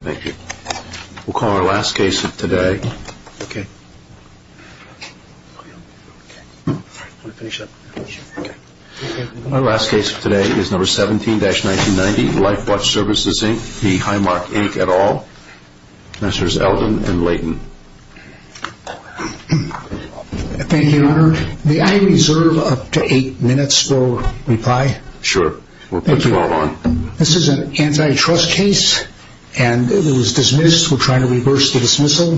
Thank you. We'll call our last case of today. Our last case of today is number 17-1990 Lifewatch Services, Inc. v. Highmark, Inc. et al. Messengers Eldon and Leighton. Thank you, Your Honor. May I reserve up to eight minutes for reply? Sure. We'll put you all on. This is an antitrust case, and it was dismissed. We're trying to reverse the dismissal.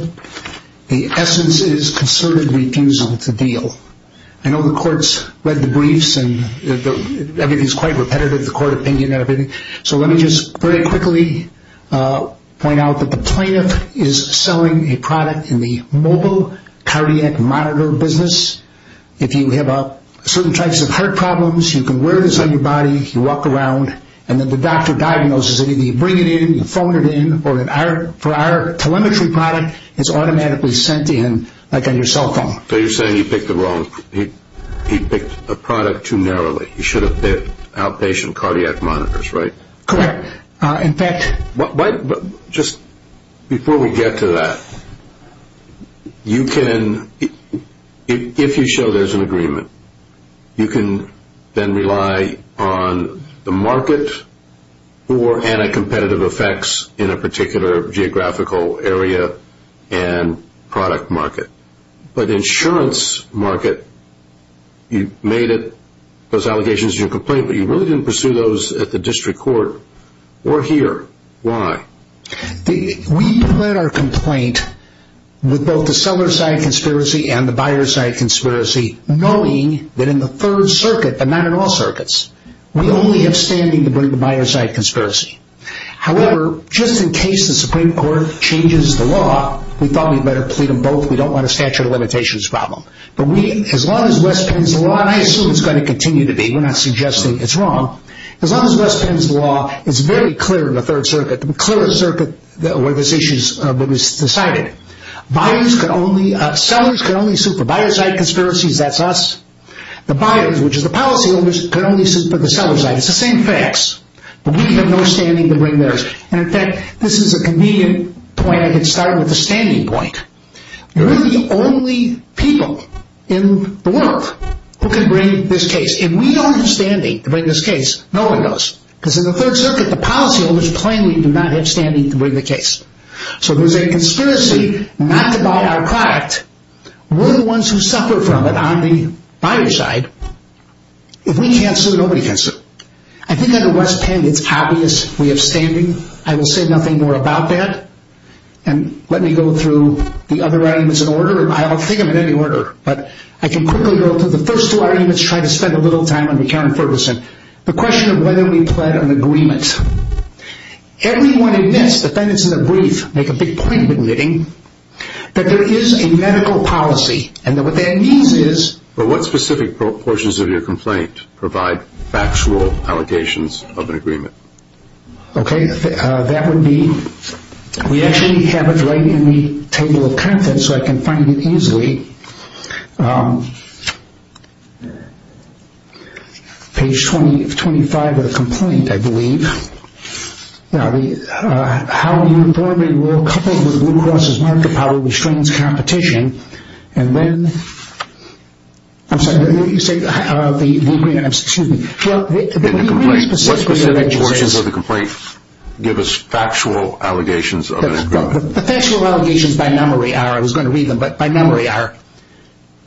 The essence is concerted refusal to deal. I know the court's read the briefs, and everything's quite repetitive, the court opinion and everything. So let me just very quickly point out that the plaintiff is selling a product in the mobile cardiac monitor business. If you have certain types of heart problems, you can wear this on your body. You walk around, and then the doctor diagnoses it. You bring it in, you phone it in, or for our telemetry product, it's automatically sent in like on your cell phone. So you're saying he picked a product too narrowly. He should have picked outpatient cardiac monitors, right? Correct. In fact... Just before we get to that, you can... If you show there's an agreement, you can then rely on the market for anti-competitive effects in a particular geographical area and product market. But insurance market, you made it... Those allegations are your complaint, but you really didn't pursue those at the district court or here. Why? We plead our complaint with both the seller-side conspiracy and the buyer-side conspiracy, knowing that in the Third Circuit, but not in all circuits, we only have standing to bring the buyer-side conspiracy. However, just in case the Supreme Court changes the law, we thought we'd better plead them both. We don't want a statute of limitations problem. But as long as West Penn's law, and I assume it's going to continue to be, we're not suggesting it's wrong, as long as West Penn's law is very clear in the Third Circuit, the clearest circuit where this issue is decided. Sellers can only sue for buyer-side conspiracies, that's us. The buyers, which is the policyholders, can only sue for the seller-side. It's the same facts. But we have no standing to bring theirs. And in fact, this is a convenient point. I can start with the standing point. You're the only people in the world who can bring this case. If we don't have standing to bring this case, no one does. Because in the Third Circuit, the policyholders plainly do not have standing to bring the case. So there's a conspiracy not to buy our product. We're the ones who suffer from it on the buyer-side. If we cancel, nobody cancels. I think under West Penn, it's obvious we have standing. I will say nothing more about that. And let me go through the other arguments in order. I don't think I'm in any order. But I can quickly go through the first two arguments. Try to spend a little time on McCown-Ferguson. The question of whether we pled an agreement. Everyone admits, defendants in the brief make a big point in admitting, that there is a medical policy. And what that means is... But what specific portions of your complaint provide factual allegations of an agreement? Okay, that would be... We actually have it right in the table of contents, so I can find it easily. Page 25 of the complaint, I believe. How uniformly rule coupled with Blue Cross' market power restrains competition. And then... I'm sorry, let me say... Excuse me. What specific portions of the complaint give us factual allegations of an agreement? The factual allegations by memory are... I was going to read them, but by memory are...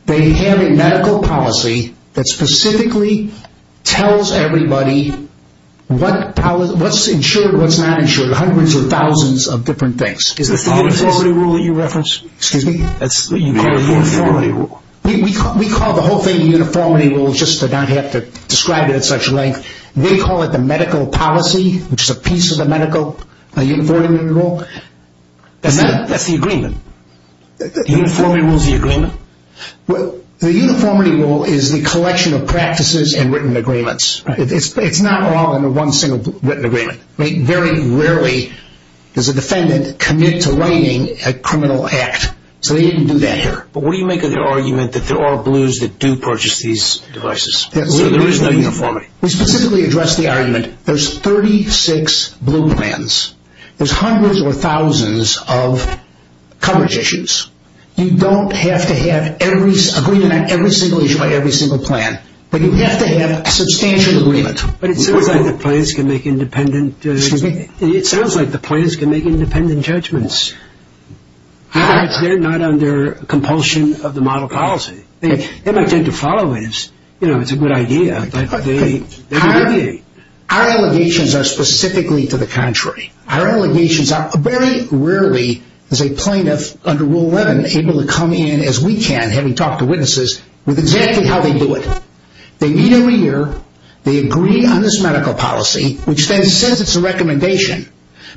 They have a medical policy that specifically tells everybody what's insured, what's not insured. Hundreds of thousands of different things. Is this the uniformity rule that you reference? Excuse me? You call it the uniformity rule. We call the whole thing the uniformity rule, just to not have to describe it at such length. They call it the medical policy, which is a piece of the medical uniformity rule. That's the agreement. The uniformity rule is the agreement? The uniformity rule is the collection of practices and written agreements. It's not all in one single written agreement. Very rarely does a defendant commit to writing a criminal act. So they didn't do that here. But what do you make of their argument that there are blues that do purchase these devices? So there is no uniformity. We specifically address the argument there's 36 blue plans. There's hundreds or thousands of coverage issues. You don't have to have agreement on every single issue by every single plan, but you have to have a substantial agreement. But it sounds like the plans can make independent... Excuse me? It sounds like the plans can make independent judgments. They're not under compulsion of the model policy. They might tend to follow it. It's a good idea. Our allegations are specifically to the contrary. Our allegations are very rarely, as a plaintiff under Rule 11, able to come in as we can, having talked to witnesses, with exactly how they do it. They meet every year. They agree on this medical policy, which then says it's a recommendation.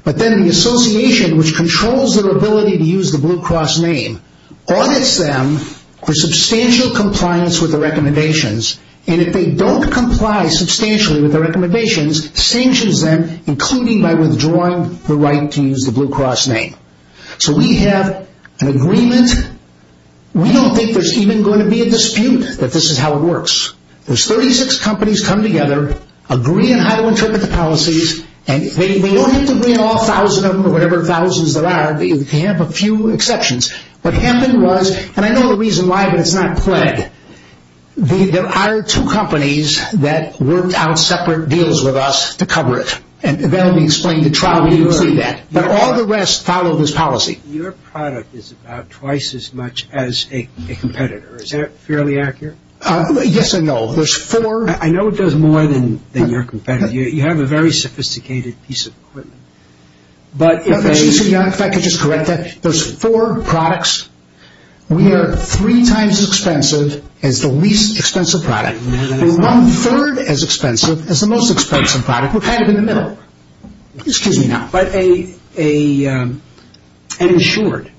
But then the association, which controls their ability to use the Blue Cross name, audits them for substantial compliance with the recommendations, and if they don't comply substantially with the recommendations, sanctions them, including by withdrawing the right to use the Blue Cross name. So we have an agreement. We don't think there's even going to be a dispute that this is how it works. There's 36 companies come together, agree on how to interpret the policies, and they don't have to bring all 1,000 of them or whatever thousands there are. They can have a few exceptions. What happened was, and I know the reason why, but it's not plagued. There are two companies that worked out separate deals with us to cover it, and that will be explained at trial when you see that. But all the rest follow this policy. Your product is about twice as much as a competitor. Is that fairly accurate? Yes and no. There's four. I know it does more than your competitor. You have a very sophisticated piece of equipment. If I could just correct that, there's four products. We are three times as expensive as the least expensive product. We're one-third as expensive as the most expensive product. We're kind of in the middle. Excuse me now. But an insured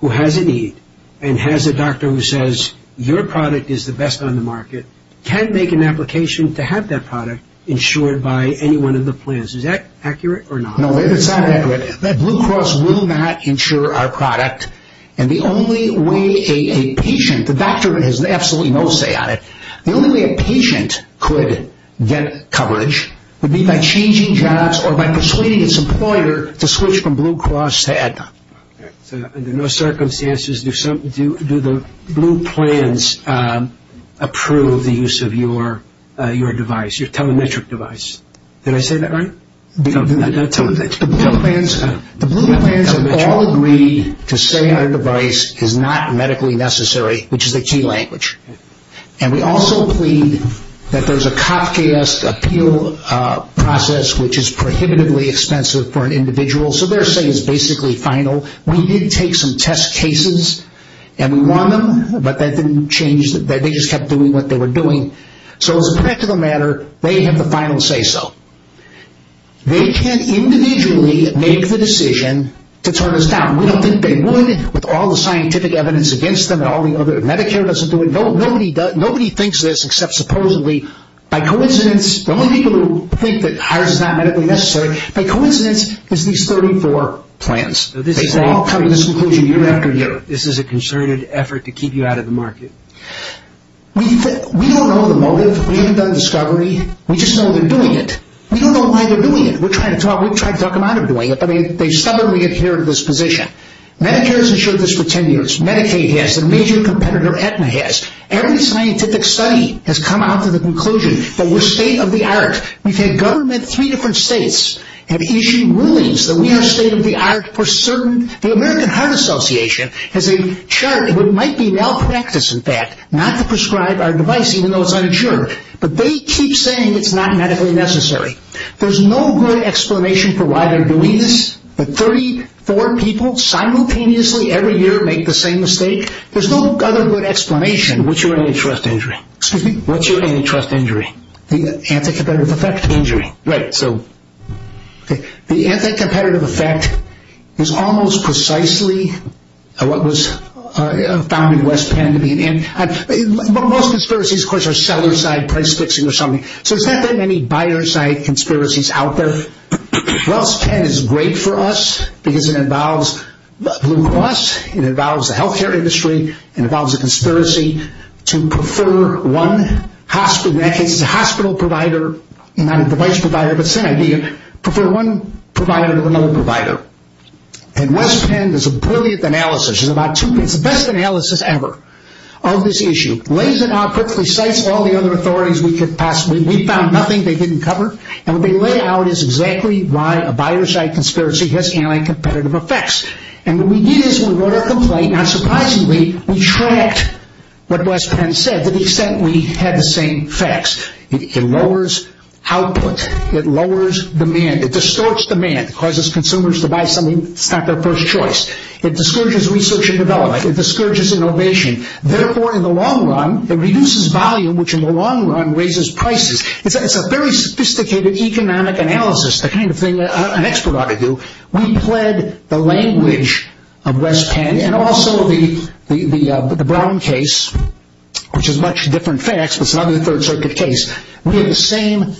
who has a need and has a doctor who says, your product is the best on the market, can make an application to have that product insured by anyone in the plans. Is that accurate or not? No, it's not accurate. Blue Cross will not insure our product. And the only way a patient, the doctor has absolutely no say on it, the only way a patient could get coverage would be by changing jobs or by persuading its employer to switch from Blue Cross to Aetna. So under no circumstances do the blue plans approve the use of your device, your telemetric device. Did I say that right? The blue plans have all agreed to say our device is not medically necessary, which is a key language. And we also plead that there's a Kafkaesque appeal process, which is prohibitively expensive for an individual. So their say is basically final. We did take some test cases and we won them, but they just kept doing what they were doing. So as a practical matter, they have the final say so. They can't individually make the decision to turn us down. We don't think they would with all the scientific evidence against them and all the other, Medicare doesn't do it. Nobody thinks this except supposedly by coincidence, the only people who think that ours is not medically necessary, by coincidence is these 34 plans. They all come to this conclusion year after year. This is a concerted effort to keep you out of the market. We don't know the motive. We haven't done discovery. We just know they're doing it. We don't know why they're doing it. We've tried to talk them out of doing it, but they stubbornly adhere to this position. Medicare has ensured this for 10 years. Medicaid has. The major competitor Aetna has. Every scientific study has come out to the conclusion that we're state of the art. We've had government, three different states, have issued rulings that we are state of the art for certain. The American Heart Association has a chart of what might be malpractice, in fact, not to prescribe our device even though it's uninsured, but they keep saying it's not medically necessary. There's no good explanation for why they're doing this. The 34 people simultaneously every year make the same mistake. There's no other good explanation. What's your antitrust injury? Excuse me? What's your antitrust injury? The anti-competitive effect injury. Right. The anti-competitive effect is almost precisely what was found in West Penn. Most conspiracies, of course, are seller-side, price-fixing or something. So there's not that many buyer-side conspiracies out there. West Penn is great for us because it involves Blue Cross, it involves the health care industry, it involves a conspiracy to prefer one hospital, in that case it's a hospital provider, not a device provider, but same idea, prefer one provider to another provider. And West Penn does a brilliant analysis, it's the best analysis ever of this issue, lays it out perfectly, cites all the other authorities we could possibly, we found nothing they didn't cover, and what they lay out is exactly why a buyer-side conspiracy has anti-competitive effects. And what we did is we wrote a complaint, and unsurprisingly we tracked what West Penn said to the extent we had the same facts. It lowers output, it lowers demand, it distorts demand, it causes consumers to buy something that's not their first choice, it discourages research and development, it discourages innovation. Therefore, in the long run, it reduces volume, which in the long run raises prices. It's a very sophisticated economic analysis, the kind of thing an expert ought to do. We pled the language of West Penn, and also the Brown case, which is much different facts, but it's another Third Circuit case. We have the same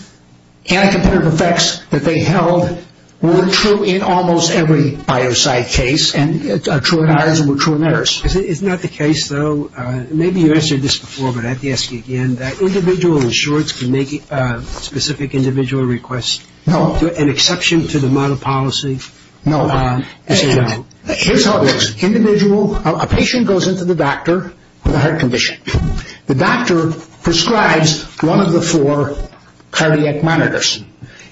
anti-competitive effects that they held were true in almost every buyer-side case, and true in ours and true in theirs. Isn't that the case, though? Maybe you answered this before, but I have to ask you again, that individual insurers can make specific individual requests, an exception to the model policy? No. Here's how it works. Individual, a patient goes into the doctor with a heart condition. The doctor prescribes one of the four cardiac monitors.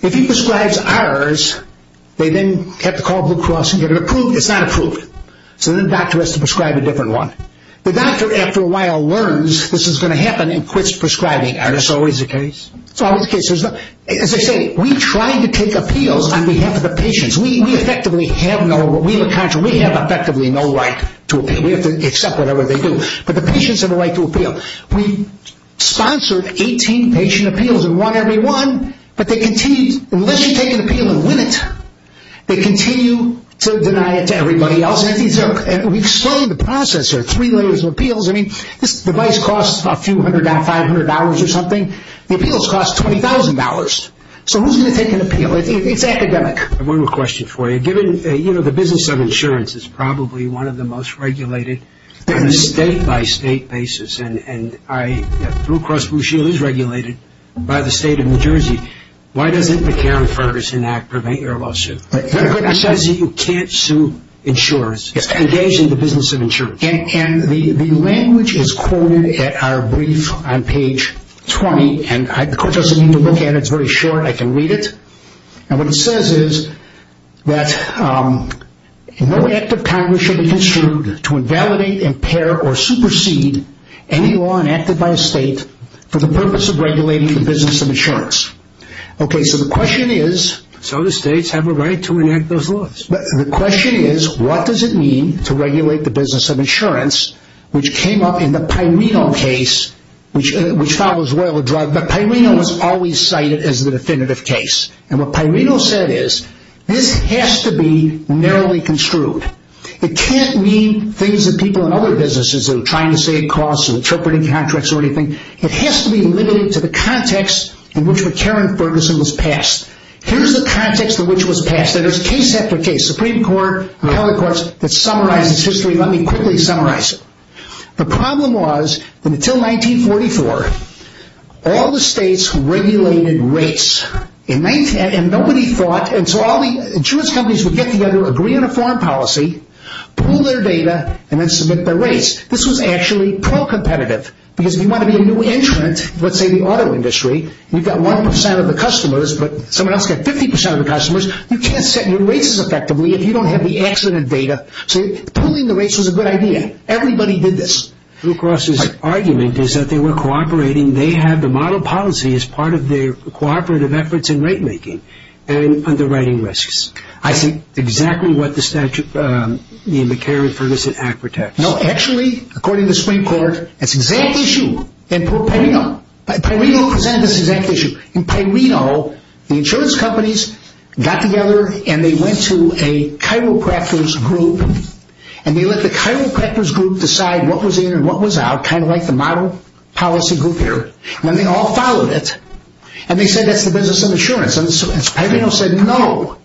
If he prescribes ours, they then have to call Blue Cross and get it approved. It's not approved, so then the doctor has to prescribe a different one. The doctor, after a while, learns this is going to happen and quits prescribing. Is this always the case? It's always the case. As I say, we try to take appeals on behalf of the patients. We have effectively no right to appeal. We have to accept whatever they do, but the patients have a right to appeal. We've sponsored 18 patient appeals and won every one, but they continue, unless you take an appeal and win it, they continue to deny it to everybody else. We've slowed the process here, three layers of appeals. This device costs a few hundred, $500 or something. The appeals cost $20,000. So who's going to take an appeal? It's academic. I have one more question for you. Given the business of insurance is probably one of the most regulated on a state-by-state basis, and Blue Cross Blue Shield is regulated by the state of New Jersey, why doesn't the Karen Ferguson Act prevent your lawsuit? And the language is quoted at our brief on page 20, and the court doesn't need to look at it. It's very short. I can read it. And what it says is that no act of Congress should be construed to invalidate, impair, or supersede any law enacted by a state for the purpose of regulating the business of insurance. Okay, so the question is so do states have a right to enact those laws? The question is what does it mean to regulate the business of insurance, which came up in the Pairino case, which follows well the drug, but Pairino was always cited as the definitive case. And what Pairino said is this has to be narrowly construed. It can't mean things that people in other businesses are trying to save costs and interpreting contracts or anything. It has to be limited to the context in which the Karen Ferguson was passed. Here's the context in which it was passed, and there's case after case, Supreme Court and other courts that summarizes history. Let me quickly summarize it. The problem was that until 1944, all the states regulated rates, and nobody thought, and so all the insurance companies would get together, agree on a foreign policy, pool their data, and then submit their rates. This was actually pro-competitive because if you want to be a new entrant, let's say the auto industry, you've got 1% of the customers, but someone else got 50% of the customers. You can't set your rates as effectively if you don't have the accident data. So pooling the rates was a good idea. Everybody did this. Blue Cross's argument is that they were cooperating. They had to model policy as part of their cooperative efforts in rate making and underwriting risks. I see exactly what the statute in the Karen Ferguson Act protects. No, actually, according to Supreme Court, that's the exact issue in Pairino. Pairino presented this exact issue. In Pairino, the insurance companies got together, and they went to a chiropractor's group, and they let the chiropractor's group decide what was in and what was out, kind of like the model policy group here, and they all followed it, and they said that's the business of insurance. Pairino said no,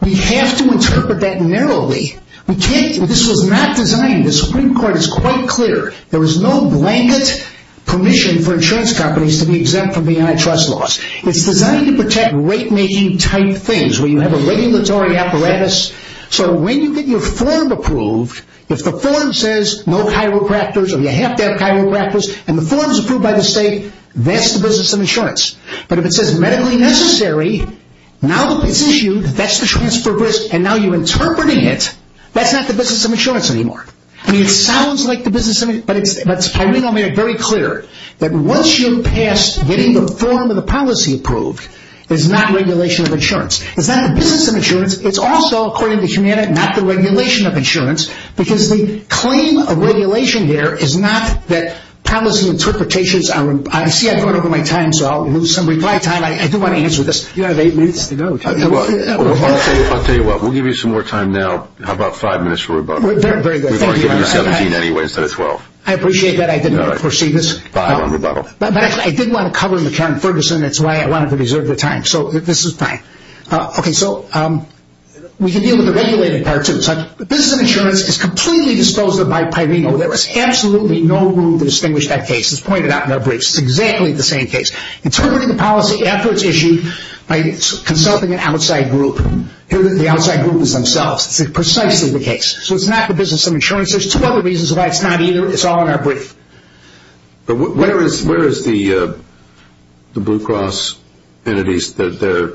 we have to interpret that narrowly. This was not designed. The Supreme Court is quite clear. There was no blanket permission for insurance companies to be exempt from the antitrust laws. It's designed to protect rate-making-type things, where you have a regulatory apparatus. So when you get your form approved, if the form says no chiropractors or you have to have chiropractors, and the form is approved by the state, that's the business of insurance. But if it says medically necessary, now that it's issued, that's the transfer of risk, and now you're interpreting it, that's not the business of insurance anymore. I mean, it sounds like the business of insurance, but Pairino made it very clear that once you're past getting the form and the policy approved, it's not regulation of insurance. It's not the business of insurance. It's also, according to Humana, not the regulation of insurance, because the claim of regulation here is not that policy interpretations are... I see I've gone over my time, so I'll lose some of my time. I do want to answer this. You have eight minutes to go. I'll tell you what, we'll give you some more time now. How about five minutes? We're going to give you 17 anyway instead of 12. I appreciate that. I didn't foresee this. Five on rebuttal. But I did want to cover the Karen Ferguson. That's why I wanted to reserve the time, so this is fine. Okay, so we can deal with the regulated part, too. The business of insurance is completely disposed of by Pairino. There is absolutely no room to distinguish that case. It's pointed out in our briefs. It's exactly the same case. Interpreting the policy after it's issued by consulting an outside group. The outside group is themselves. It's precisely the case. So it's not the business of insurance. There's two other reasons why it's not either. It's all in our brief. But where is the Blue Cross entities, their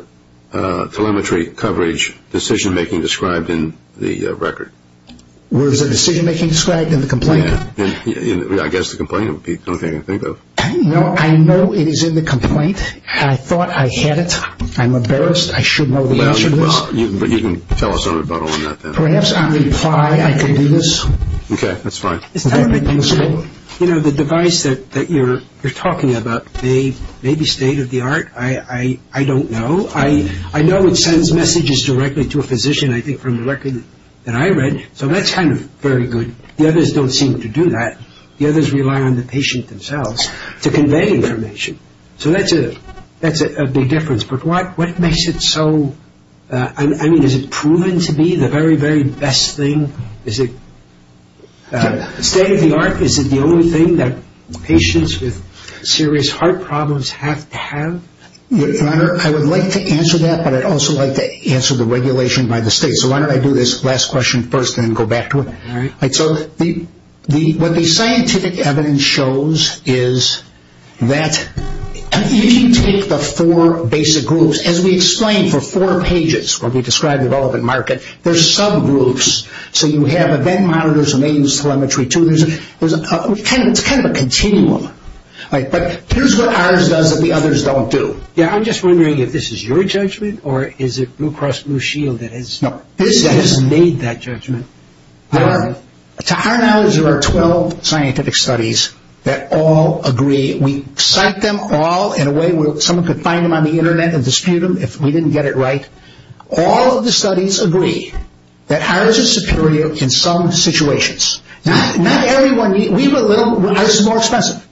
telemetry coverage, decision-making described in the record? Where is the decision-making described in the complaint? I guess the complaint would be the only thing I can think of. I know it is in the complaint. I thought I had it. I'm embarrassed. I should know the answer to this. Well, you can tell us about all of that then. Perhaps I reply I can do this. Okay, that's fine. You know, the device that you're talking about may be state-of-the-art. I don't know. I know it sends messages directly to a physician, I think, from the record that I read. So that's kind of very good. The others don't seem to do that. The others rely on the patient themselves to convey information. So that's a big difference. But what makes it so – I mean, is it proven to be the very, very best thing? Is it state-of-the-art? Is it the only thing that patients with serious heart problems have to have? Your Honor, I would like to answer that, but I'd also like to answer the regulation by the state. So why don't I do this last question first and then go back to it. All right. So what the scientific evidence shows is that if you take the four basic groups, as we explained for four pages when we described the relevant market, there's subgroups. So you have event monitors, remains, telemetry, too. It's kind of a continuum. But here's what ours does that the others don't do. Yeah, I'm just wondering if this is your judgment or is it Blue Cross Blue Shield that has made that judgment. Your Honor, to our knowledge, there are 12 scientific studies that all agree. We cite them all in a way where someone could find them on the Internet and dispute them if we didn't get it right. All of the studies agree that ours is superior in some situations. Not everyone – ours is more expensive.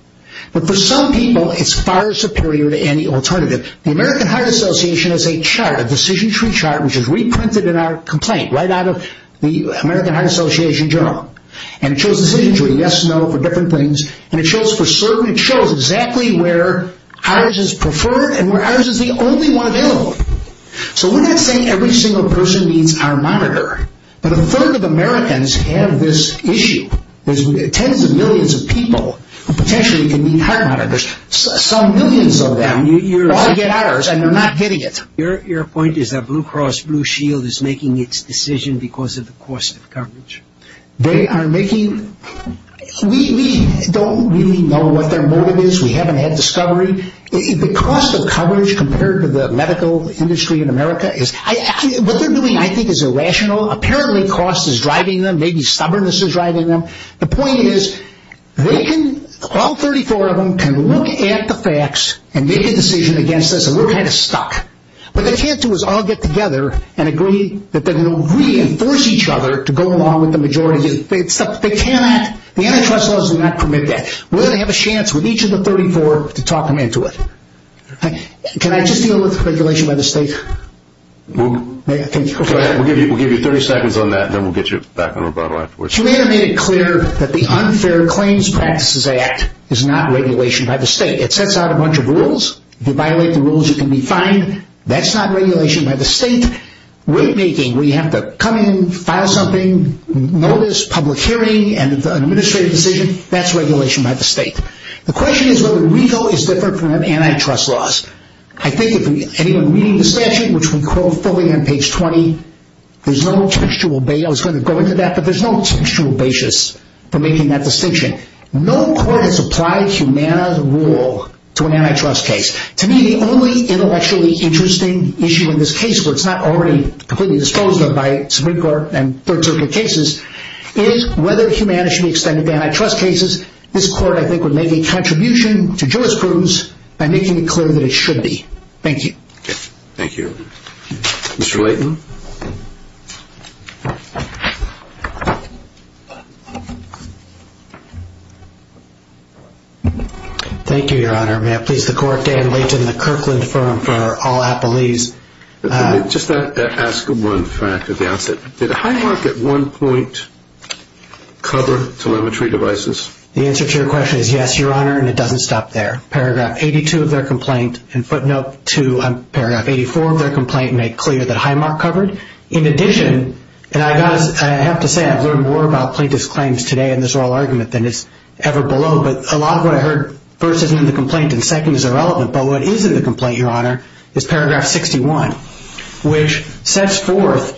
But for some people, it's far superior to any alternative. The American Heart Association has a chart, a decision tree chart, which is reprinted in our complaint right out of the American Heart Association journal. And it shows a decision tree, yes, no, for different things. And it shows for certain – it shows exactly where ours is preferred and where ours is the only one available. So we're not saying every single person needs our monitor. But a third of Americans have this issue. There's tens of millions of people who potentially could need heart monitors. Some millions of them all get ours and they're not getting it. Your point is that Blue Cross Blue Shield is making its decision because of the cost of coverage. They are making – we don't really know what their motive is. We haven't had discovery. The cost of coverage compared to the medical industry in America is – what they're doing, I think, is irrational. Apparently, cost is driving them. Maybe stubbornness is driving them. The point is they can – all 34 of them can look at the facts and make a decision against us, and we're kind of stuck. What they can't do is all get together and agree that they're going to reinforce each other to go along with the majority. They cannot – the antitrust laws do not permit that. We're going to have a chance with each of the 34 to talk them into it. Can I just deal with regulation by the state? We'll give you 30 seconds on that, and then we'll get you back on the road. Humana made it clear that the Unfair Claims Practices Act is not regulation by the state. It sets out a bunch of rules. If you violate the rules, you can be fined. That's not regulation by the state. Rate making, where you have to come in, file something, notice, public hearing, and an administrative decision, that's regulation by the state. The question is whether RICO is different from antitrust laws. I think if anyone reading the statute, which we quote fully on page 20, there's no textual – I was going to go into that, but there's no textual basis for making that distinction. No court has applied Humana's rule to an antitrust case. To me, the only intellectually interesting issue in this case, where it's not already completely disposed of by Supreme Court and third circuit cases, is whether Humana should be extended to antitrust cases. This court, I think, would make a contribution to jurisprudence by making it clear that it should be. Thank you. Thank you. Mr. Leighton. Thank you, Your Honor. May I please the court, Dan Leighton, the Kirkland firm for all appellees. Just ask one fact at the outset. Did Highmark at one point cover telemetry devices? The answer to your question is yes, Your Honor, and it doesn't stop there. Paragraph 82 of their complaint and footnote 2 on paragraph 84 of their complaint made clear that Highmark covered. In addition, and I have to say I've learned more about plaintiff's claims today in this oral argument than is ever below, but a lot of what I heard first isn't in the complaint and second is irrelevant, but what is in the complaint, Your Honor, is paragraph 61, which sets forth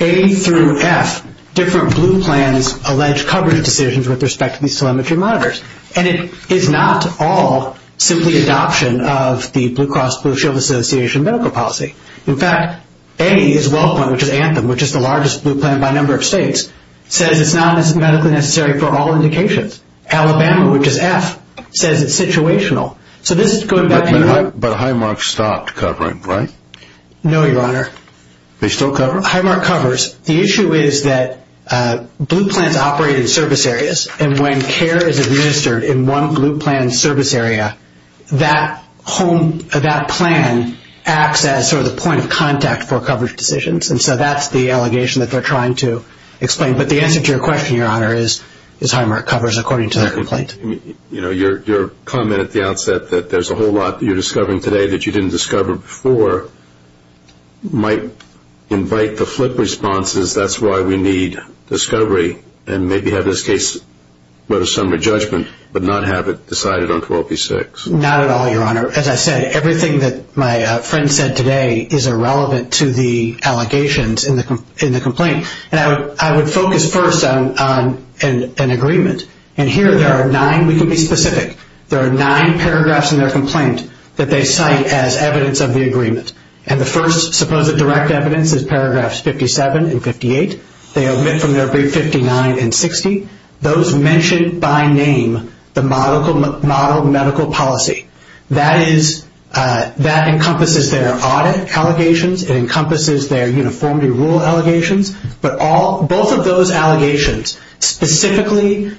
A through F different blue plans allege coverage decisions with respect to these telemetry monitors. And it is not all simply adoption of the Blue Cross Blue Shield Association medical policy. In fact, A is WellPoint, which is Anthem, which is the largest blue plan by number of states, says it's not as medically necessary for all indications. Alabama, which is F, says it's situational. So this is going back and forth. But Highmark stopped covering, right? No, Your Honor. They still cover? Highmark covers. The issue is that blue plans operate in service areas, and when care is administered in one blue plan service area, that plan acts as sort of the point of contact for coverage decisions. And so that's the allegation that they're trying to explain. But the answer to your question, Your Honor, is Highmark covers according to their complaint. Your comment at the outset that there's a whole lot that you're discovering today that you didn't discover before might invite the flip response as that's why we need discovery and maybe have this case go to summary judgment but not have it decided on 12p6. Not at all, Your Honor. As I said, everything that my friend said today is irrelevant to the allegations in the complaint. And I would focus first on an agreement. And here there are nine. We can be specific. There are nine paragraphs in their complaint that they cite as evidence of the agreement. And the first supposed direct evidence is paragraphs 57 and 58. They omit from their brief 59 and 60. Those mention by name the model medical policy. That encompasses their audit allegations. It encompasses their uniformity rule allegations. Both of those allegations specifically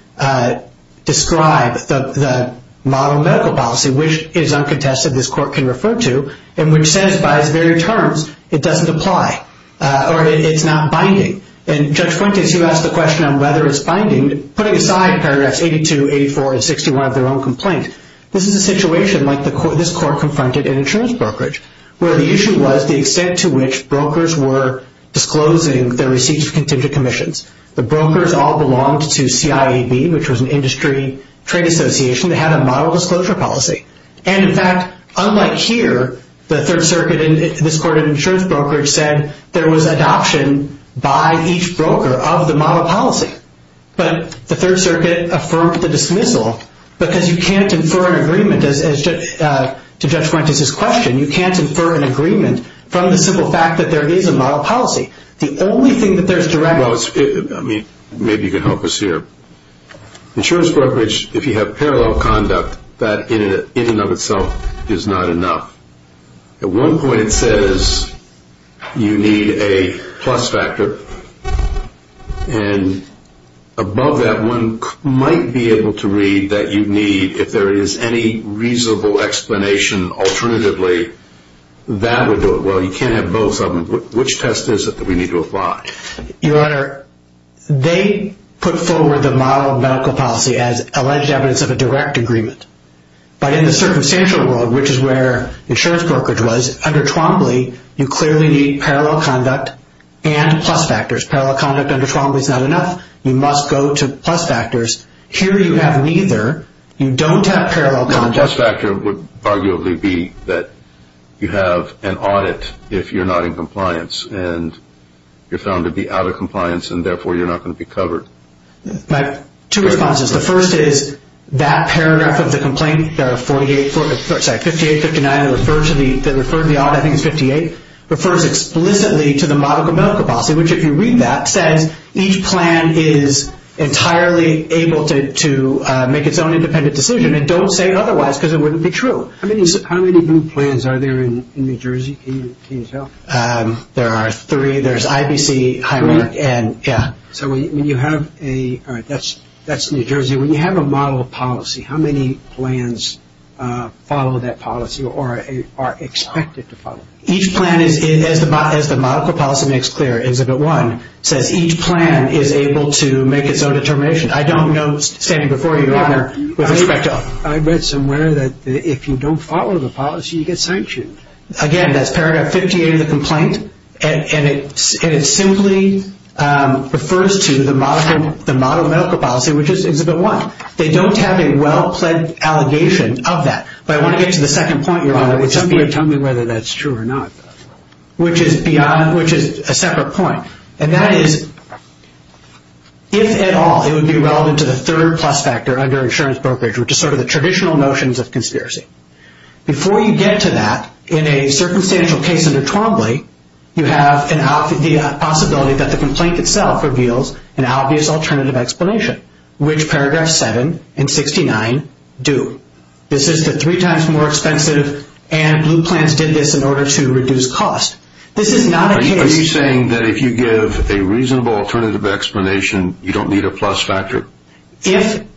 describe the model medical policy, which is uncontested this court can refer to and which says by its very terms it doesn't apply or it's not binding. And Judge Fuentes, you asked the question on whether it's binding. Putting aside paragraphs 82, 84, and 61 of their own complaint, this is a situation like this court confronted in insurance brokerage where the issue was the extent to which brokers were disclosing their receipts to contingent commissions. The brokers all belonged to CIAB, which was an industry trade association that had a model disclosure policy. And, in fact, unlike here, the Third Circuit in this court of insurance brokerage said there was adoption by each broker of the model policy. But the Third Circuit affirmed the dismissal because you can't infer an agreement to Judge Fuentes' question. You can't infer an agreement from the simple fact that there is a model policy. The only thing that there's directly... Well, I mean, maybe you can help us here. Insurance brokerage, if you have parallel conduct, that in and of itself is not enough. At one point it says you need a plus factor. And above that, one might be able to read that you need, if there is any reasonable explanation alternatively, that would do it. Well, you can't have both of them. Which test is it that we need to apply? Your Honor, they put forward the model medical policy as alleged evidence of a direct agreement. But in the circumstantial world, which is where insurance brokerage was, under Twombly, you clearly need parallel conduct and plus factors. Parallel conduct under Twombly is not enough. You must go to plus factors. Here you have neither. You don't have parallel conduct. The plus factor would arguably be that you have an audit if you're not in compliance, and you're found to be out of compliance, and therefore you're not going to be covered. Two responses. The first is that paragraph of the complaint, 58-59, that referred to the audit, I think it's 58, refers explicitly to the model medical policy, which if you read that, says each plan is entirely able to make its own independent decision, and don't say otherwise because it wouldn't be true. How many blue plans are there in New Jersey? Can you tell? There are three. There's IBC, Highmark, and yeah. So when you have a ñ all right, that's New Jersey. When you have a model policy, how many plans follow that policy or are expected to follow it? Each plan, as the medical policy makes clear, Exhibit 1 says each plan is able to make its own determination. I don't know, standing before you, Your Honor, with respect to ñ I read somewhere that if you don't follow the policy, you get sanctioned. Again, that's paragraph 58 of the complaint, and it simply refers to the model medical policy, which is Exhibit 1. They don't have a well-planned allegation of that. But I want to get to the second point, Your Honor. Tell me whether that's true or not. Which is a separate point. And that is if at all it would be relevant to the third plus factor under insurance brokerage, which is sort of the traditional notions of conspiracy. Before you get to that, in a circumstantial case under Trombley, you have the possibility that the complaint itself reveals an obvious alternative explanation, which paragraphs 7 and 69 do. This is the three times more expensive, and Blue Plans did this in order to reduce cost. This is not a case ñ Are you saying that if you give a reasonable alternative explanation, you don't need a plus factor? You don't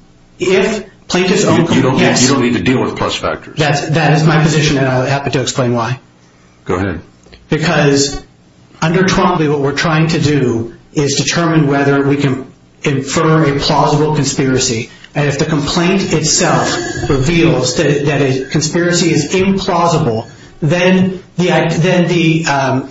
need to deal with plus factors. That is my position, and I'll be happy to explain why. Go ahead. Because under Trombley, what we're trying to do is determine whether we can infer a plausible conspiracy. And if the complaint itself reveals that a conspiracy is implausible, then the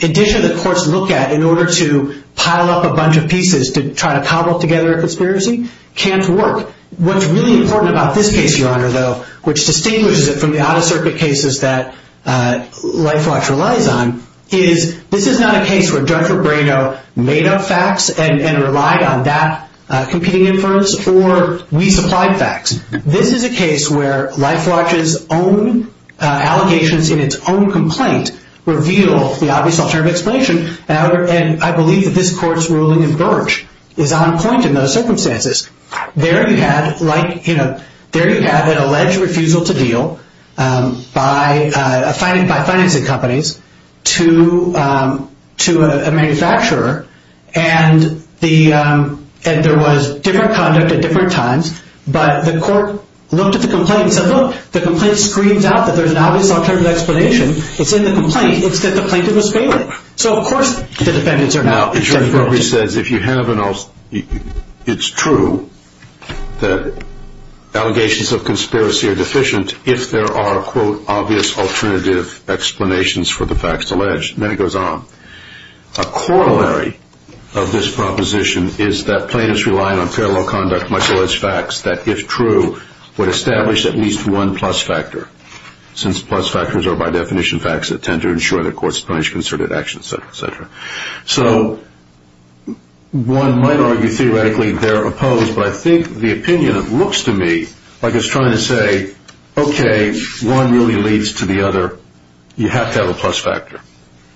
edition the courts look at in order to pile up a bunch of pieces to try to cobble together a conspiracy can't work. What's really important about this case, Your Honor, though, which distinguishes it from the out-of-circuit cases that LifeWatch relies on, is this is not a case where Judge Rebrano made up facts and relied on that competing inference, or we supplied facts. This is a case where LifeWatch's own allegations in its own complaint reveal the obvious alternative explanation, and I believe that this court's ruling in Birch is on point in those circumstances. There you have an alleged refusal to deal by financing companies to a manufacturer, and there was different conduct at different times, but the court looked at the complaint and said, look, the complaint screams out that there's an obvious alternative explanation. It's in the complaint. It's that the plaintiff was failing. So, of course, the defendants are now exempt. Now, as your inquiry says, it's true that allegations of conspiracy are deficient if there are, quote, obvious alternative explanations for the facts alleged. And then it goes on. A corollary of this proposition is that plaintiffs rely on fair law conduct, much less facts, that if true would establish at least one plus factor, since plus factors are by definition facts that tend to ensure that courts punish concerted actions, et cetera, et cetera. So one might argue theoretically they're opposed, but I think the opinion looks to me like it's trying to say, okay, one really leads to the other. You have to have a plus factor.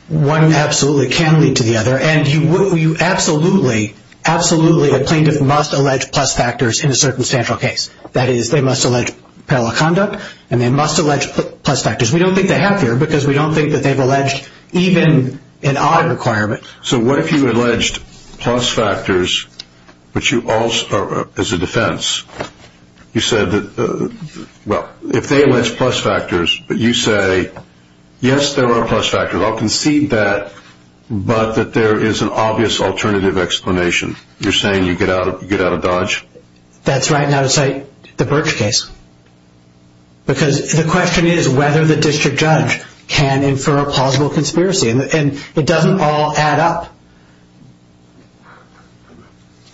One absolutely can lead to the other, and you absolutely, absolutely, a plaintiff must allege plus factors in a circumstantial case. That is, they must allege parallel conduct, and they must allege plus factors. We don't think they have here because we don't think that they've alleged even an odd requirement. So what if you alleged plus factors, but you also, as a defense, you said that, well, if they allege plus factors, but you say, yes, there are plus factors. I'll concede that, but that there is an obvious alternative explanation. You're saying you get out of dodge? That's right. Now to cite the Birch case, because the question is whether the district judge can infer a plausible conspiracy, and it doesn't all add up.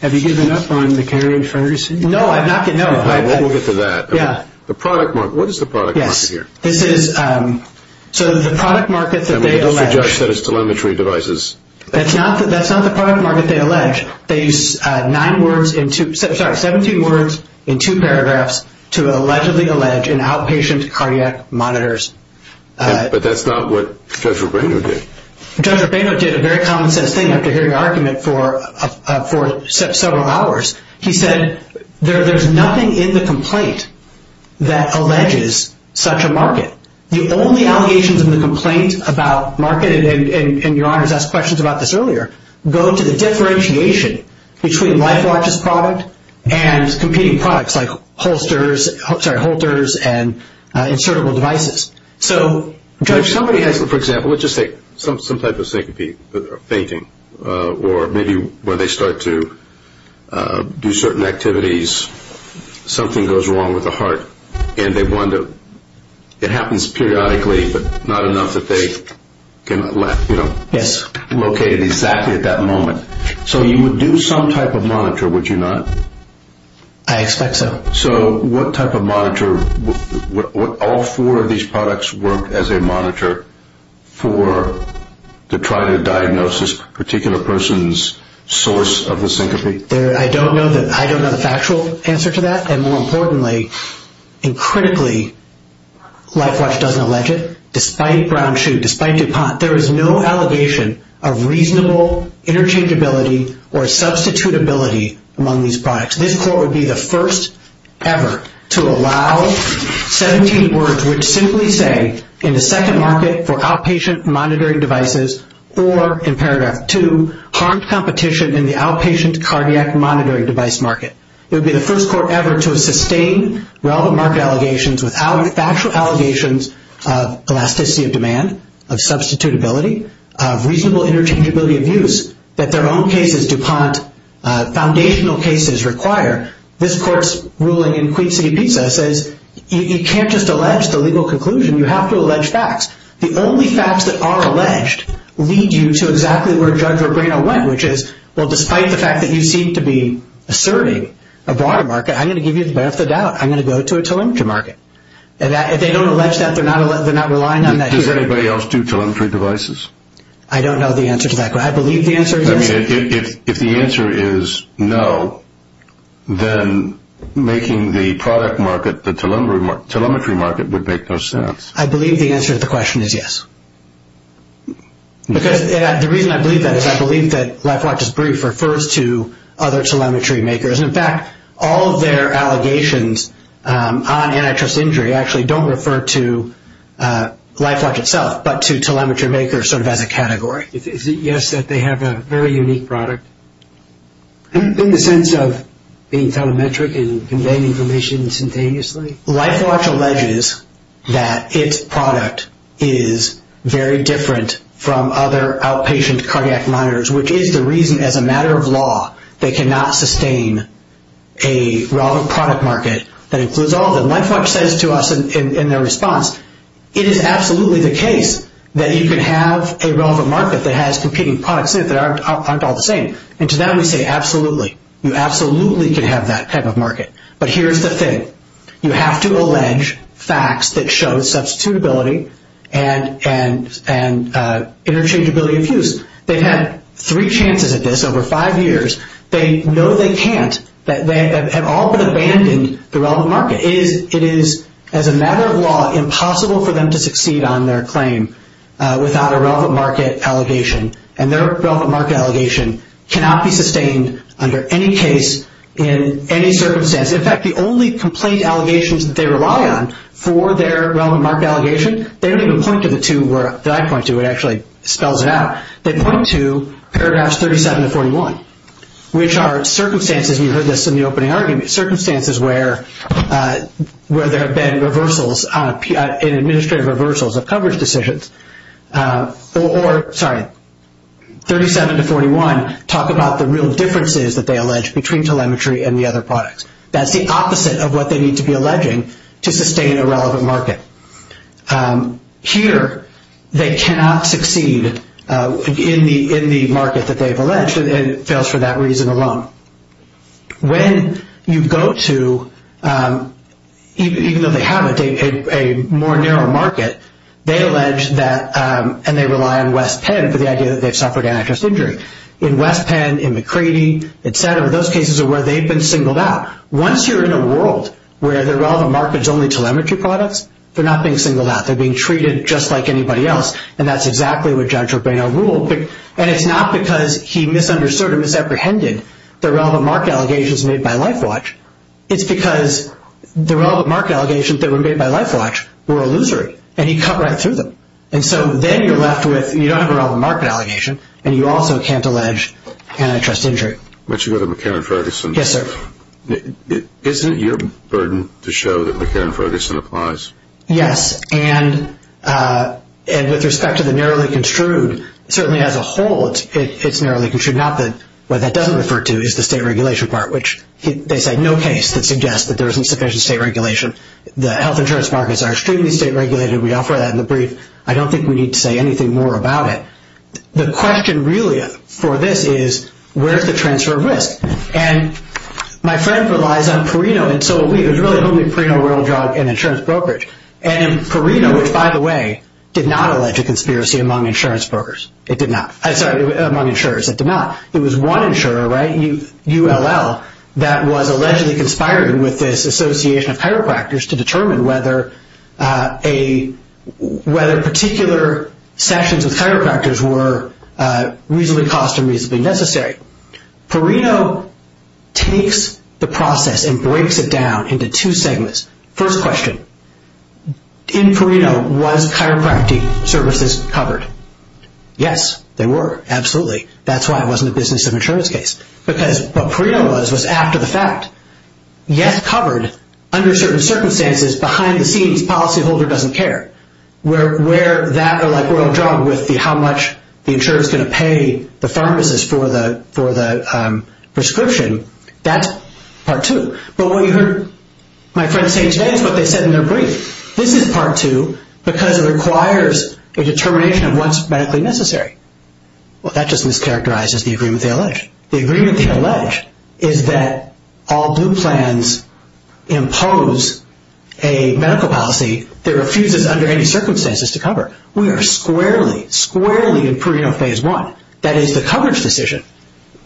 Have you given up on the carry and furnish? No. We'll get to that. Yeah. The product market. What is the product market here? Yes. This is, so the product market that they allege. The district judge said it's telemetry devices. That's not the product market they allege. They use nine words in two, sorry, 17 words in two paragraphs to allegedly allege an outpatient cardiac monitors. But that's not what Judge Rubino did. Judge Rubino did a very common sense thing after hearing the argument for several hours. He said there's nothing in the complaint that alleges such a market. The only allegations in the complaint about market, and Your Honors asked questions about this earlier, go to the differentiation between LifeWatch's product and competing products like holsters and insertable devices. So, Judge, somebody has, for example, let's just say some type of syncope, or maybe when they start to do certain activities, something goes wrong with the heart, and they wonder, it happens periodically, but not enough that they can, you know. Yes. Located exactly at that moment. So you would do some type of monitor, would you not? I expect so. So what type of monitor, would all four of these products work as a monitor for trying to diagnose this particular person's source of the syncope? I don't know the factual answer to that. And more importantly, and critically, LifeWatch doesn't allege it. Despite Brown Shoot, despite DuPont, there is no allegation of reasonable interchangeability or substitutability among these products. This court would be the first ever to allow 17 words which simply say, in the second market for outpatient monitoring devices, or in paragraph 2, harmed competition in the outpatient cardiac monitoring device market. It would be the first court ever to sustain relevant market allegations without factual allegations of elasticity of demand, of substitutability, of reasonable interchangeability of use, that their own cases, DuPont foundational cases, require. This court's ruling in Queen City Pizza says you can't just allege the legal conclusion. You have to allege facts. The only facts that are alleged lead you to exactly where Judge Robrino went, which is, well, despite the fact that you seem to be asserting a broader market, I'm going to give you the benefit of the doubt. I'm going to go to a telemetry market. If they don't allege that, they're not relying on that. Does anybody else do telemetry devices? I don't know the answer to that. But I believe the answer is yes. I mean, if the answer is no, then making the product market the telemetry market would make no sense. I believe the answer to the question is yes. Because the reason I believe that is I believe that LifeWatch's brief refers to other telemetry makers. In fact, all of their allegations on antitrust injury actually don't refer to LifeWatch itself, but to telemetry makers sort of as a category. Is it yes that they have a very unique product in the sense of being telemetric and conveying information instantaneously? LifeWatch alleges that its product is very different from other outpatient cardiac monitors, which is the reason, as a matter of law, they cannot sustain a relevant product market that includes all of them. LifeWatch says to us in their response, it is absolutely the case that you can have a relevant market that has competing products in it that aren't all the same. And to that we say, absolutely. You absolutely can have that type of market. But here's the thing. You have to allege facts that show substitutability and interchangeability of use. They've had three chances at this over five years. They know they can't. They have all but abandoned the relevant market. It is, as a matter of law, impossible for them to succeed on their claim without a relevant market allegation. And their relevant market allegation cannot be sustained under any case in any circumstance. In fact, the only complaint allegations that they rely on for their relevant market allegation, they don't even point to the two that I point to. It actually spells it out. They point to paragraphs 37 to 41, which are circumstances, and you heard this in the opening argument, circumstances where there have been reversals, administrative reversals of coverage decisions, or, sorry, 37 to 41 talk about the real differences that they allege between telemetry and the other products. That's the opposite of what they need to be alleging to sustain a relevant market. Here they cannot succeed in the market that they've alleged, and it fails for that reason alone. When you go to, even though they have a more narrow market, they allege that, and they rely on West Penn for the idea that they've suffered antitrust injury. In West Penn, in McCready, et cetera, those cases are where they've been singled out. Once you're in a world where the relevant market is only telemetry products, they're not being singled out. They're being treated just like anybody else, and that's exactly what Judge Urbano ruled. And it's not because he misunderstood or misapprehended the relevant market allegations made by LifeWatch. It's because the relevant market allegations that were made by LifeWatch were illusory, and he cut right through them. And so then you're left with, you don't have a relevant market allegation, and you also can't allege antitrust injury. Why don't you go to McCarran-Ferguson? Yes, sir. Isn't it your burden to show that McCarran-Ferguson applies? Yes, and with respect to the narrowly construed, certainly as a whole, it's narrowly construed. What that doesn't refer to is the state regulation part, which they say no case that suggests that there isn't sufficient state regulation. The health insurance markets are extremely state regulated. We offer that in the brief. I don't think we need to say anything more about it. The question really for this is where is the transfer of risk? My friend relies on Perino. It was really only Perino, Royal Drug, and insurance brokerage. Perino, which by the way, did not allege a conspiracy among insurance brokers. It did not. I'm sorry, among insurers. It did not. It was one insurer, ULL, that was allegedly conspiring with this association of chiropractors to determine whether particular sessions with chiropractors were reasonably cost and reasonably necessary. Perino takes the process and breaks it down into two segments. First question, in Perino, was chiropractic services covered? Yes, they were. Absolutely. That's why it wasn't a business of insurance case, because what Perino was was after the fact. Yes, covered, under certain circumstances, behind the scenes, policyholder doesn't care. Where that or like Royal Drug with how much the insurer is going to pay the pharmacist for the prescription, that's part two. But what you heard my friend say today is what they said in their brief. This is part two because it requires a determination of what's medically necessary. Well, that just mischaracterizes the agreement they allege. The agreement they allege is that all due plans impose a medical policy that refuses under any circumstances to cover. We are squarely, squarely in Perino phase one. That is the coverage decision.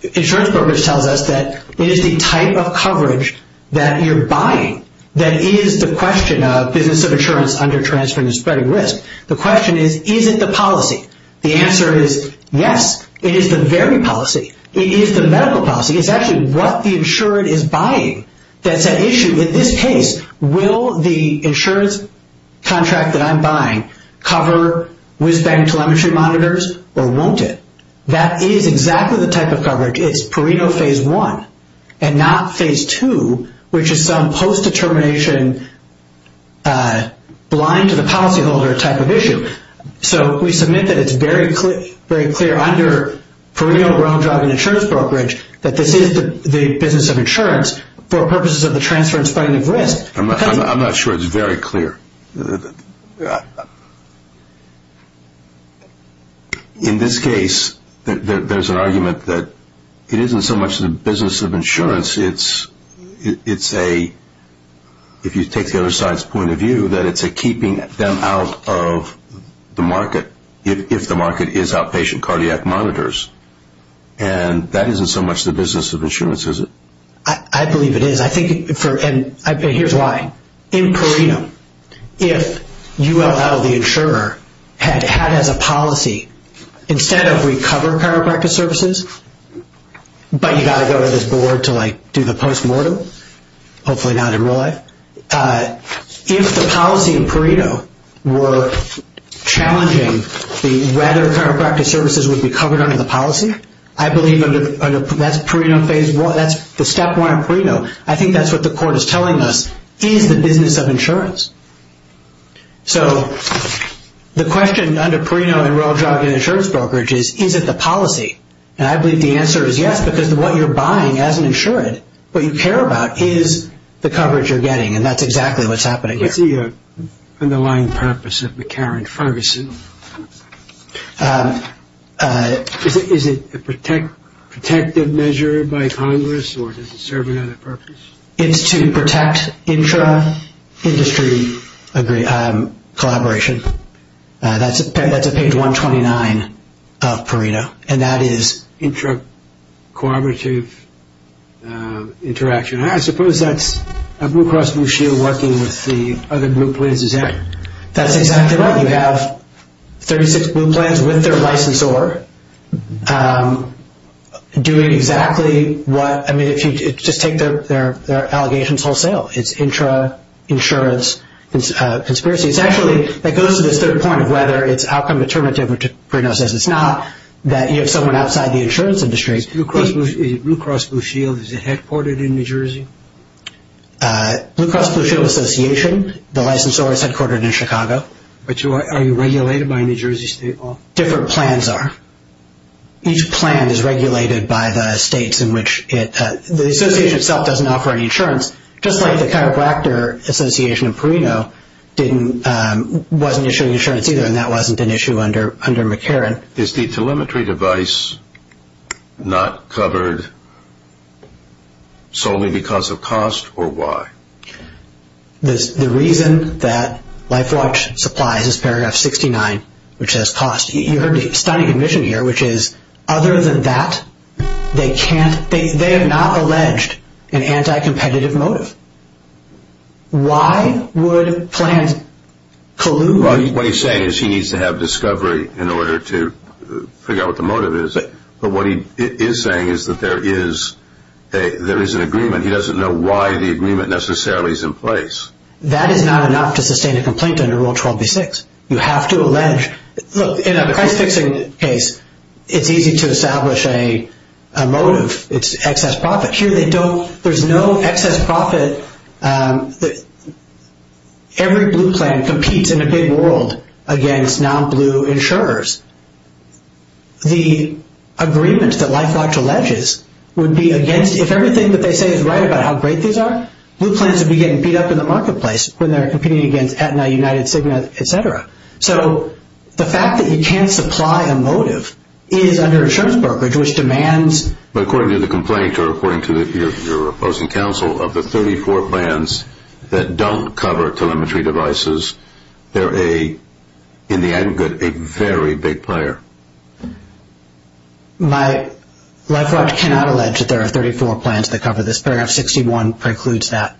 Insurance brokerage tells us that it is the type of coverage that you're buying that is the question of business of insurance under transferring and spreading risk. The question is, is it the policy? The answer is yes, it is the very policy. It is the medical policy. It's actually what the insurer is buying that's at issue. In this case, will the insurance contract that I'm buying cover WISBANG telemetry monitors or won't it? That is exactly the type of coverage. It's Perino phase one and not phase two, which is some post-determination blind to the policyholder type of issue. We submit that it's very clear under Perino ground driving insurance brokerage that this is the business of insurance for purposes of the transfer and spreading of risk. I'm not sure it's very clear. In this case, there's an argument that it isn't so much the business of insurance. It's a, if you take the other side's point of view, that it's a keeping them out of the market if the market is outpatient cardiac monitors. That isn't so much the business of insurance, is it? I believe it is. Here's why. In Perino, if ULL, the insurer, had as a policy, instead of recover chiropractic services, but you've got to go to this board to do the post-mortem, hopefully not in real life. If the policy in Perino were challenging whether chiropractic services would be covered under the policy, I believe that's Perino phase one. That's the step one in Perino. I think that's what the court is telling us is the business of insurance. So the question under Perino and road driving insurance brokerage is, is it the policy? And I believe the answer is yes, because what you're buying as an insured, what you care about is the coverage you're getting, and that's exactly what's happening here. What's the underlying purpose of McCarran-Ferguson? Is it a protective measure by Congress, or does it serve another purpose? It's to protect intra-industry collaboration. That's at page 129 of Perino. And that is? Intra-cooperative interaction. I suppose that's Blue Cross Blue Shield working with the other group leaders. That's exactly right. You have 36 blue plans with their licensor doing exactly what, I mean, just take their allegations wholesale. It's intra-insurance conspiracy. It's actually, that goes to this third point of whether it's outcome determinative, which Perino says it's not, that you have someone outside the insurance industry. Blue Cross Blue Shield is headquartered in New Jersey? Blue Cross Blue Shield Association, the licensor, is headquartered in Chicago. But are you regulated by a New Jersey state law? Different plans are. Each plan is regulated by the states in which it, the association itself doesn't offer any insurance, just like the Chiropractor Association of Perino wasn't issuing insurance either, and that wasn't an issue under McCarran. Is the telemetry device not covered solely because of cost, or why? The reason that LifeWatch supplies is paragraph 69, which says cost. You heard a stunning admission here, which is other than that, they can't, they have not alleged an anti-competitive motive. Why would plans collude? What he's saying is he needs to have discovery in order to figure out what the motive is. But what he is saying is that there is an agreement. He doesn't know why the agreement necessarily is in place. That is not enough to sustain a complaint under Rule 12b-6. You have to allege. Look, in a price-fixing case, it's easy to establish a motive. It's excess profit. Here they don't, there's no excess profit. Every blue plan competes in a big world against non-blue insurers. The agreement that LifeWatch alleges would be against, if everything that they say is right about how great these are, blue plans would be getting beat up in the marketplace when they're competing against Aetna, United, Sigma, etc. So the fact that you can't supply a motive is under insurance brokerage, which demands... But according to the complaint, or according to your opposing counsel, of the 34 plans that don't cover telemetry devices, they're, in the end, a very big player. LifeWatch cannot allege that there are 34 plans that cover this. Paragraph 61 precludes that.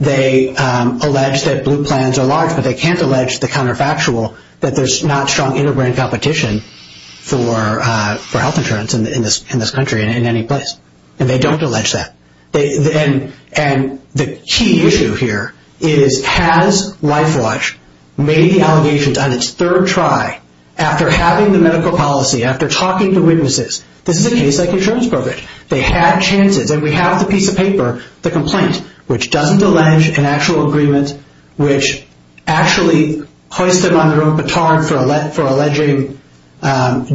They allege that blue plans are large, but they can't allege the counterfactual, that there's not strong inter-brand competition for health insurance in this country and in any place. And they don't allege that. And the key issue here is, has LifeWatch made the allegations on its third try, after having the medical policy, after talking to witnesses? This is a case like insurance brokerage. They had chances. And we have the piece of paper, the complaint, which doesn't allege an actual agreement, which actually hoists them on their own baton for alleging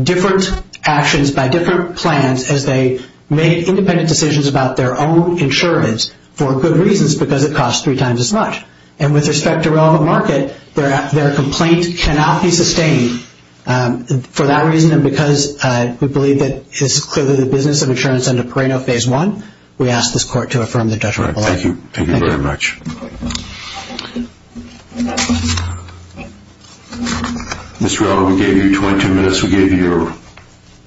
different actions by different plans as they make independent decisions about their own insurance for good reasons, because it costs three times as much. And with respect to relevant market, their complaint cannot be sustained for that reason. And because we believe that this is clearly the business of insurance under Parano Phase 1, we ask this court to affirm the judgment of the law. Thank you. Thank you very much. Mr. Auto, we gave you 22 minutes. We gave you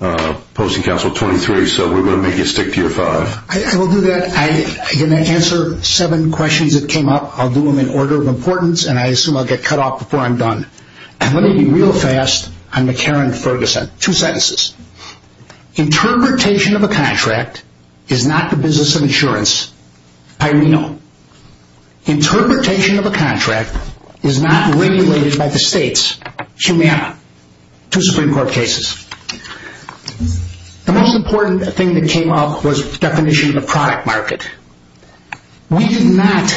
your posting counsel 23, so we're going to make you stick to your five. I will do that. I'm going to answer seven questions that came up. I'll do them in order of importance, and I assume I'll get cut off before I'm done. And let me be real fast. I'm a Karen Ferguson. Two sentences. Interpretation of a contract is not the business of insurance. Parano. Interpretation of a contract is not regulated by the states. Humana. Two Supreme Court cases. The most important thing that came up was the definition of the product market. We did not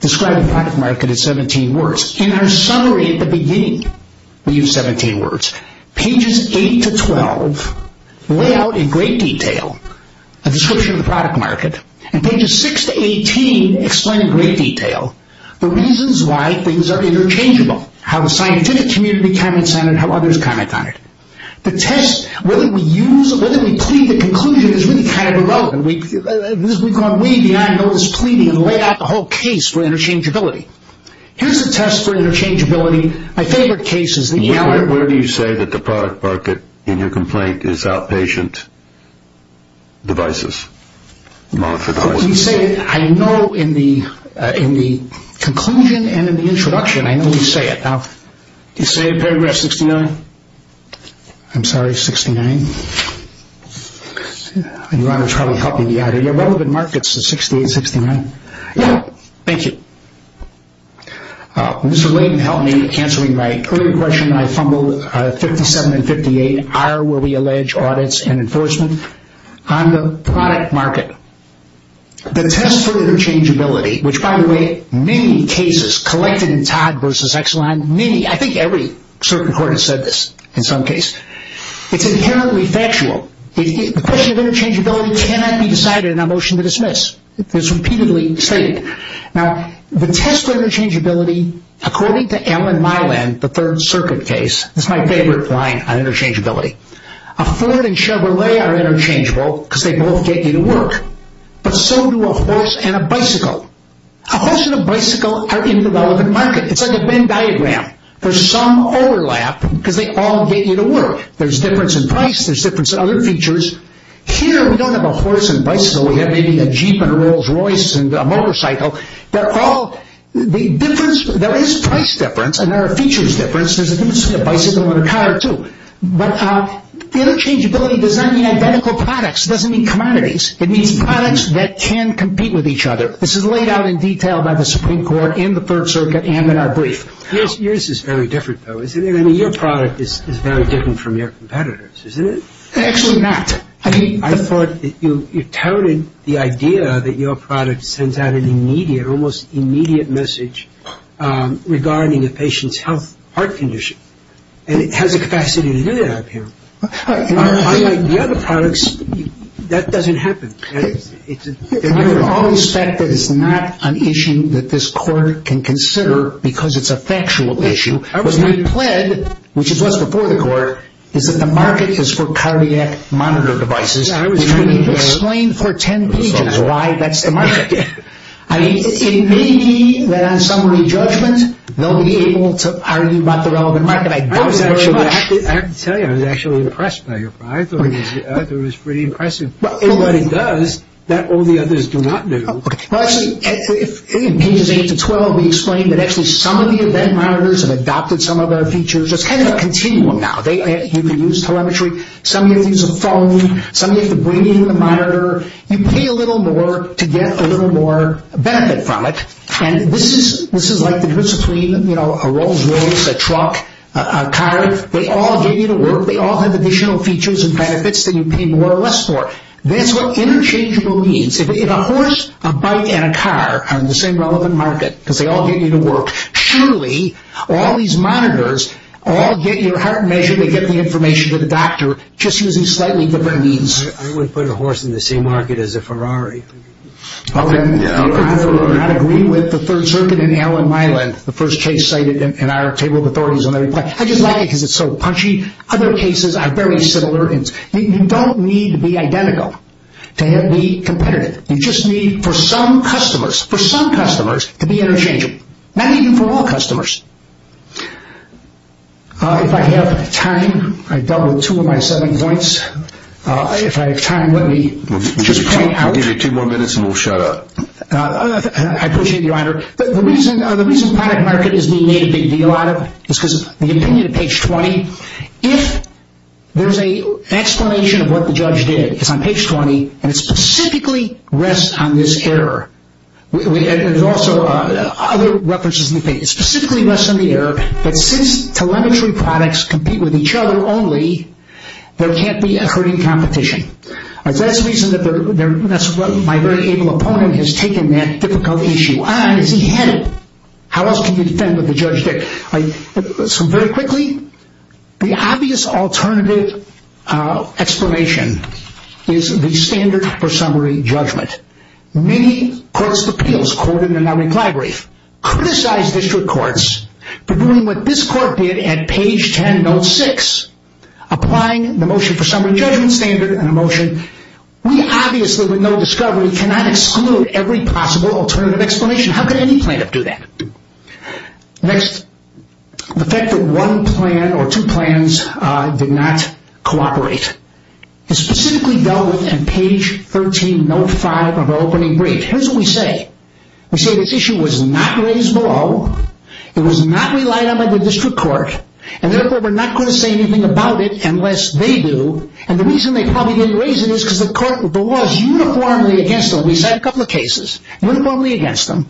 describe the product market as 17 words. In our summary at the beginning, we used 17 words. Pages 8 to 12 lay out in great detail a description of the product market, and pages 6 to 18 explain in great detail the reasons why things are interchangeable, how the scientific community comments on it, how others comment on it. The test, whether we use it, whether we plead the conclusion is really kind of irrelevant. We've gone way beyond those pleading and laid out the whole case for interchangeability. Here's a test for interchangeability. Where do you say that the product market in your complaint is outpatient devices? I know in the conclusion and in the introduction, I know you say it. Do you say it in paragraph 69? I'm sorry, 69? Your Honor, it's probably helping me out. Are your relevant markets the 68 and 69? Yeah. Thank you. Mr. Layden helped me in answering my earlier question. I fumbled 57 and 58 are where we allege audits and enforcement on the product market. The test for interchangeability, which, by the way, many cases collected in Todd v. Exelon, many, I think every certain court has said this in some case, it's inherently factual. The question of interchangeability cannot be decided in a motion to dismiss. It's repeatedly stated. Now, the test for interchangeability, according to Ellen Myland, the Third Circuit case, this is my favorite point on interchangeability. A Ford and Chevrolet are interchangeable because they both get you to work, but so do a horse and a bicycle. A horse and a bicycle are in the relevant market. It's like a Venn diagram. There's some overlap because they all get you to work. There's difference in price. Here, we don't have a horse and bicycle. We have maybe a Jeep and a Rolls Royce and a motorcycle. They're all the difference. There is price difference, and there are features difference. There's a difference between a bicycle and a car, too. But interchangeability does not mean identical products. It doesn't mean commodities. It means products that can compete with each other. This is laid out in detail by the Supreme Court in the Third Circuit and in our brief. Yours is very different, though, isn't it? I mean, your product is very different from your competitors, isn't it? Actually, not. I thought that you touted the idea that your product sends out an immediate, almost immediate message regarding a patient's health, heart condition, and it has the capacity to do that, I appear. Unlike the other products, that doesn't happen. We all respect that it's not an issue that this Court can consider because it's a factual issue. What we pled, which is what's before the Court, is that the market is for cardiac monitor devices, which can be explained for ten pages why that's the market. I mean, it may be that on summary judgment they'll be able to argue about the relevant market. I doubt it very much. I have to tell you, I was actually impressed by your product. I thought it was pretty impressive. What it does that all the others do not do. In Pages 8-12, we explain that actually some of the event monitors have adopted some of our features. It's kind of a continuum now. You can use telemetry. Some of you have to use a phone. Some of you have to bring in a monitor. You pay a little more to get a little more benefit from it. And this is like the difference between a Rolls Royce, a truck, a car. They all give you the work. They all have additional features and benefits that you pay more or less for. That's what interchangeable means. If a horse, a bike, and a car are in the same relevant market because they all get you to work, surely all these monitors all get your heart measured. They get the information to the doctor just using slightly different means. I would put a horse in the same market as a Ferrari. Well, I would not agree with the Third Circuit in Allen-Milan, the first case cited in our table of authorities. I just like it because it's so punchy. Other cases are very similar. You don't need to be identical to be competitive. You just need for some customers to be interchangeable, not even for all customers. If I have time, I've dealt with two of my seven points. If I have time, let me just point out. We'll give you two more minutes and we'll shut up. I appreciate it, Your Honor. The reason product market is being made a big deal out of is because of the opinion at page 20. If there's an explanation of what the judge did, it's on page 20, and it specifically rests on this error. There's also other references in the case. It specifically rests on the error that since telemetry products compete with each other only, there can't be a hurting competition. That's the reason that my very able opponent has taken that difficult issue on. Is he headed? How else can you defend what the judge did? Very quickly, the obvious alternative explanation is the standard for summary judgment. Many courts of appeals, courted in the non-replied brief, criticized district courts for doing what this court did at page 10, note 6, applying the motion for summary judgment standard and a motion. We obviously with no discovery cannot exclude every possible alternative explanation. How could any plaintiff do that? Next, the fact that one plan or two plans did not cooperate. It's specifically dealt with in page 13, note 5 of our opening brief. Here's what we say. We say this issue was not raised below. It was not relied on by the district court, and therefore we're not going to say anything about it unless they do, and the reason they probably didn't raise it is because the law is uniformly against them. We cite a couple of cases, uniformly against them.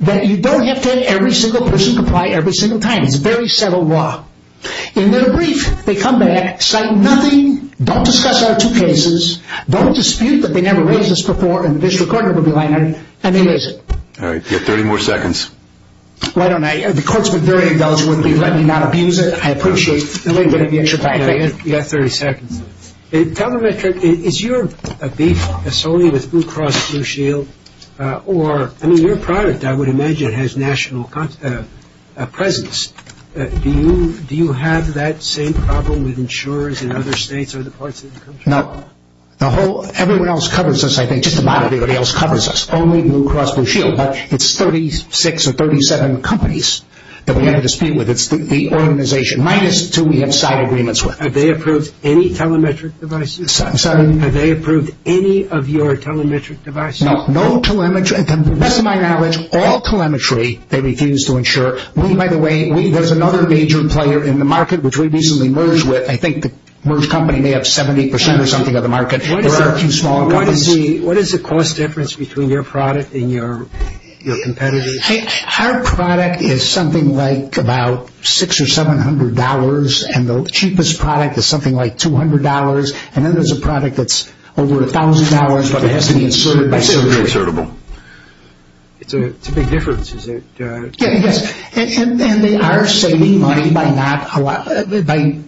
You don't have to have every single person comply every single time. It's a very settled law. In their brief, they come back, cite nothing, don't discuss our two cases, don't dispute that they never raised this before, and the district court never relied on it, and they raise it. All right. You have 30 more seconds. Why don't I? The court's been very indulgent with me. Let me not abuse it. I appreciate the little bit of extra time. You have 30 seconds. Tell them, Richard, is your beef solely with Blue Cross Blue Shield? I mean, your product, I would imagine, has national presence. Do you have that same problem with insurers in other states or other parts of the country? No. Everyone else covers us, I think, just about everybody else covers us, only Blue Cross Blue Shield, but it's 36 or 37 companies that we have a dispute with. It's the organization, minus two we have side agreements with. Have they approved any telemetric devices? I'm sorry? Have they approved any of your telemetric devices? No. No telemetry. To the best of my knowledge, all telemetry they refuse to insure. We, by the way, there's another major player in the market, which we recently merged with. I think the merged company may have 70% or something of the market. There are a few small companies. What is the cost difference between your product and your competitors? Our product is something like about $600 or $700, and the cheapest product is something like $200, and then there's a product that's over $1,000, but it has to be inserted by surgery. It's a big difference, is it? Yes, and they are saving money by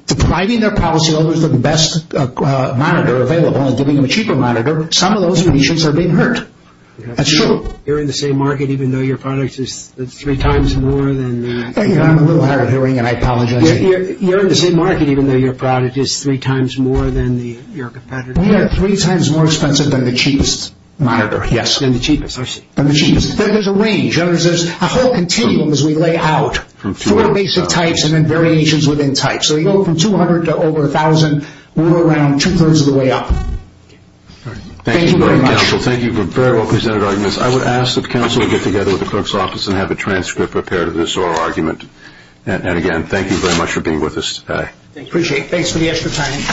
depriving their policyholders of the best monitor available and giving them a cheaper monitor. Some of those clinicians are being hurt. That's true. You're in the same market even though your product is three times more than that? I'm a little hard of hearing, and I apologize. You're in the same market even though your product is three times more than your competitor? We are three times more expensive than the cheapest monitor. Yes, than the cheapest. But there's a range. There's a whole continuum as we lay out four basic types and then variations within types. So we go from $200 to over $1,000. We're around two-thirds of the way up. Thank you very much. Thank you very much, counsel. Thank you for very well presented arguments. I would ask that counsel would get together with the clerk's office and have a transcript prepared of this oral argument. And, again, thank you very much for being with us today. Appreciate it. Thanks for the extra time.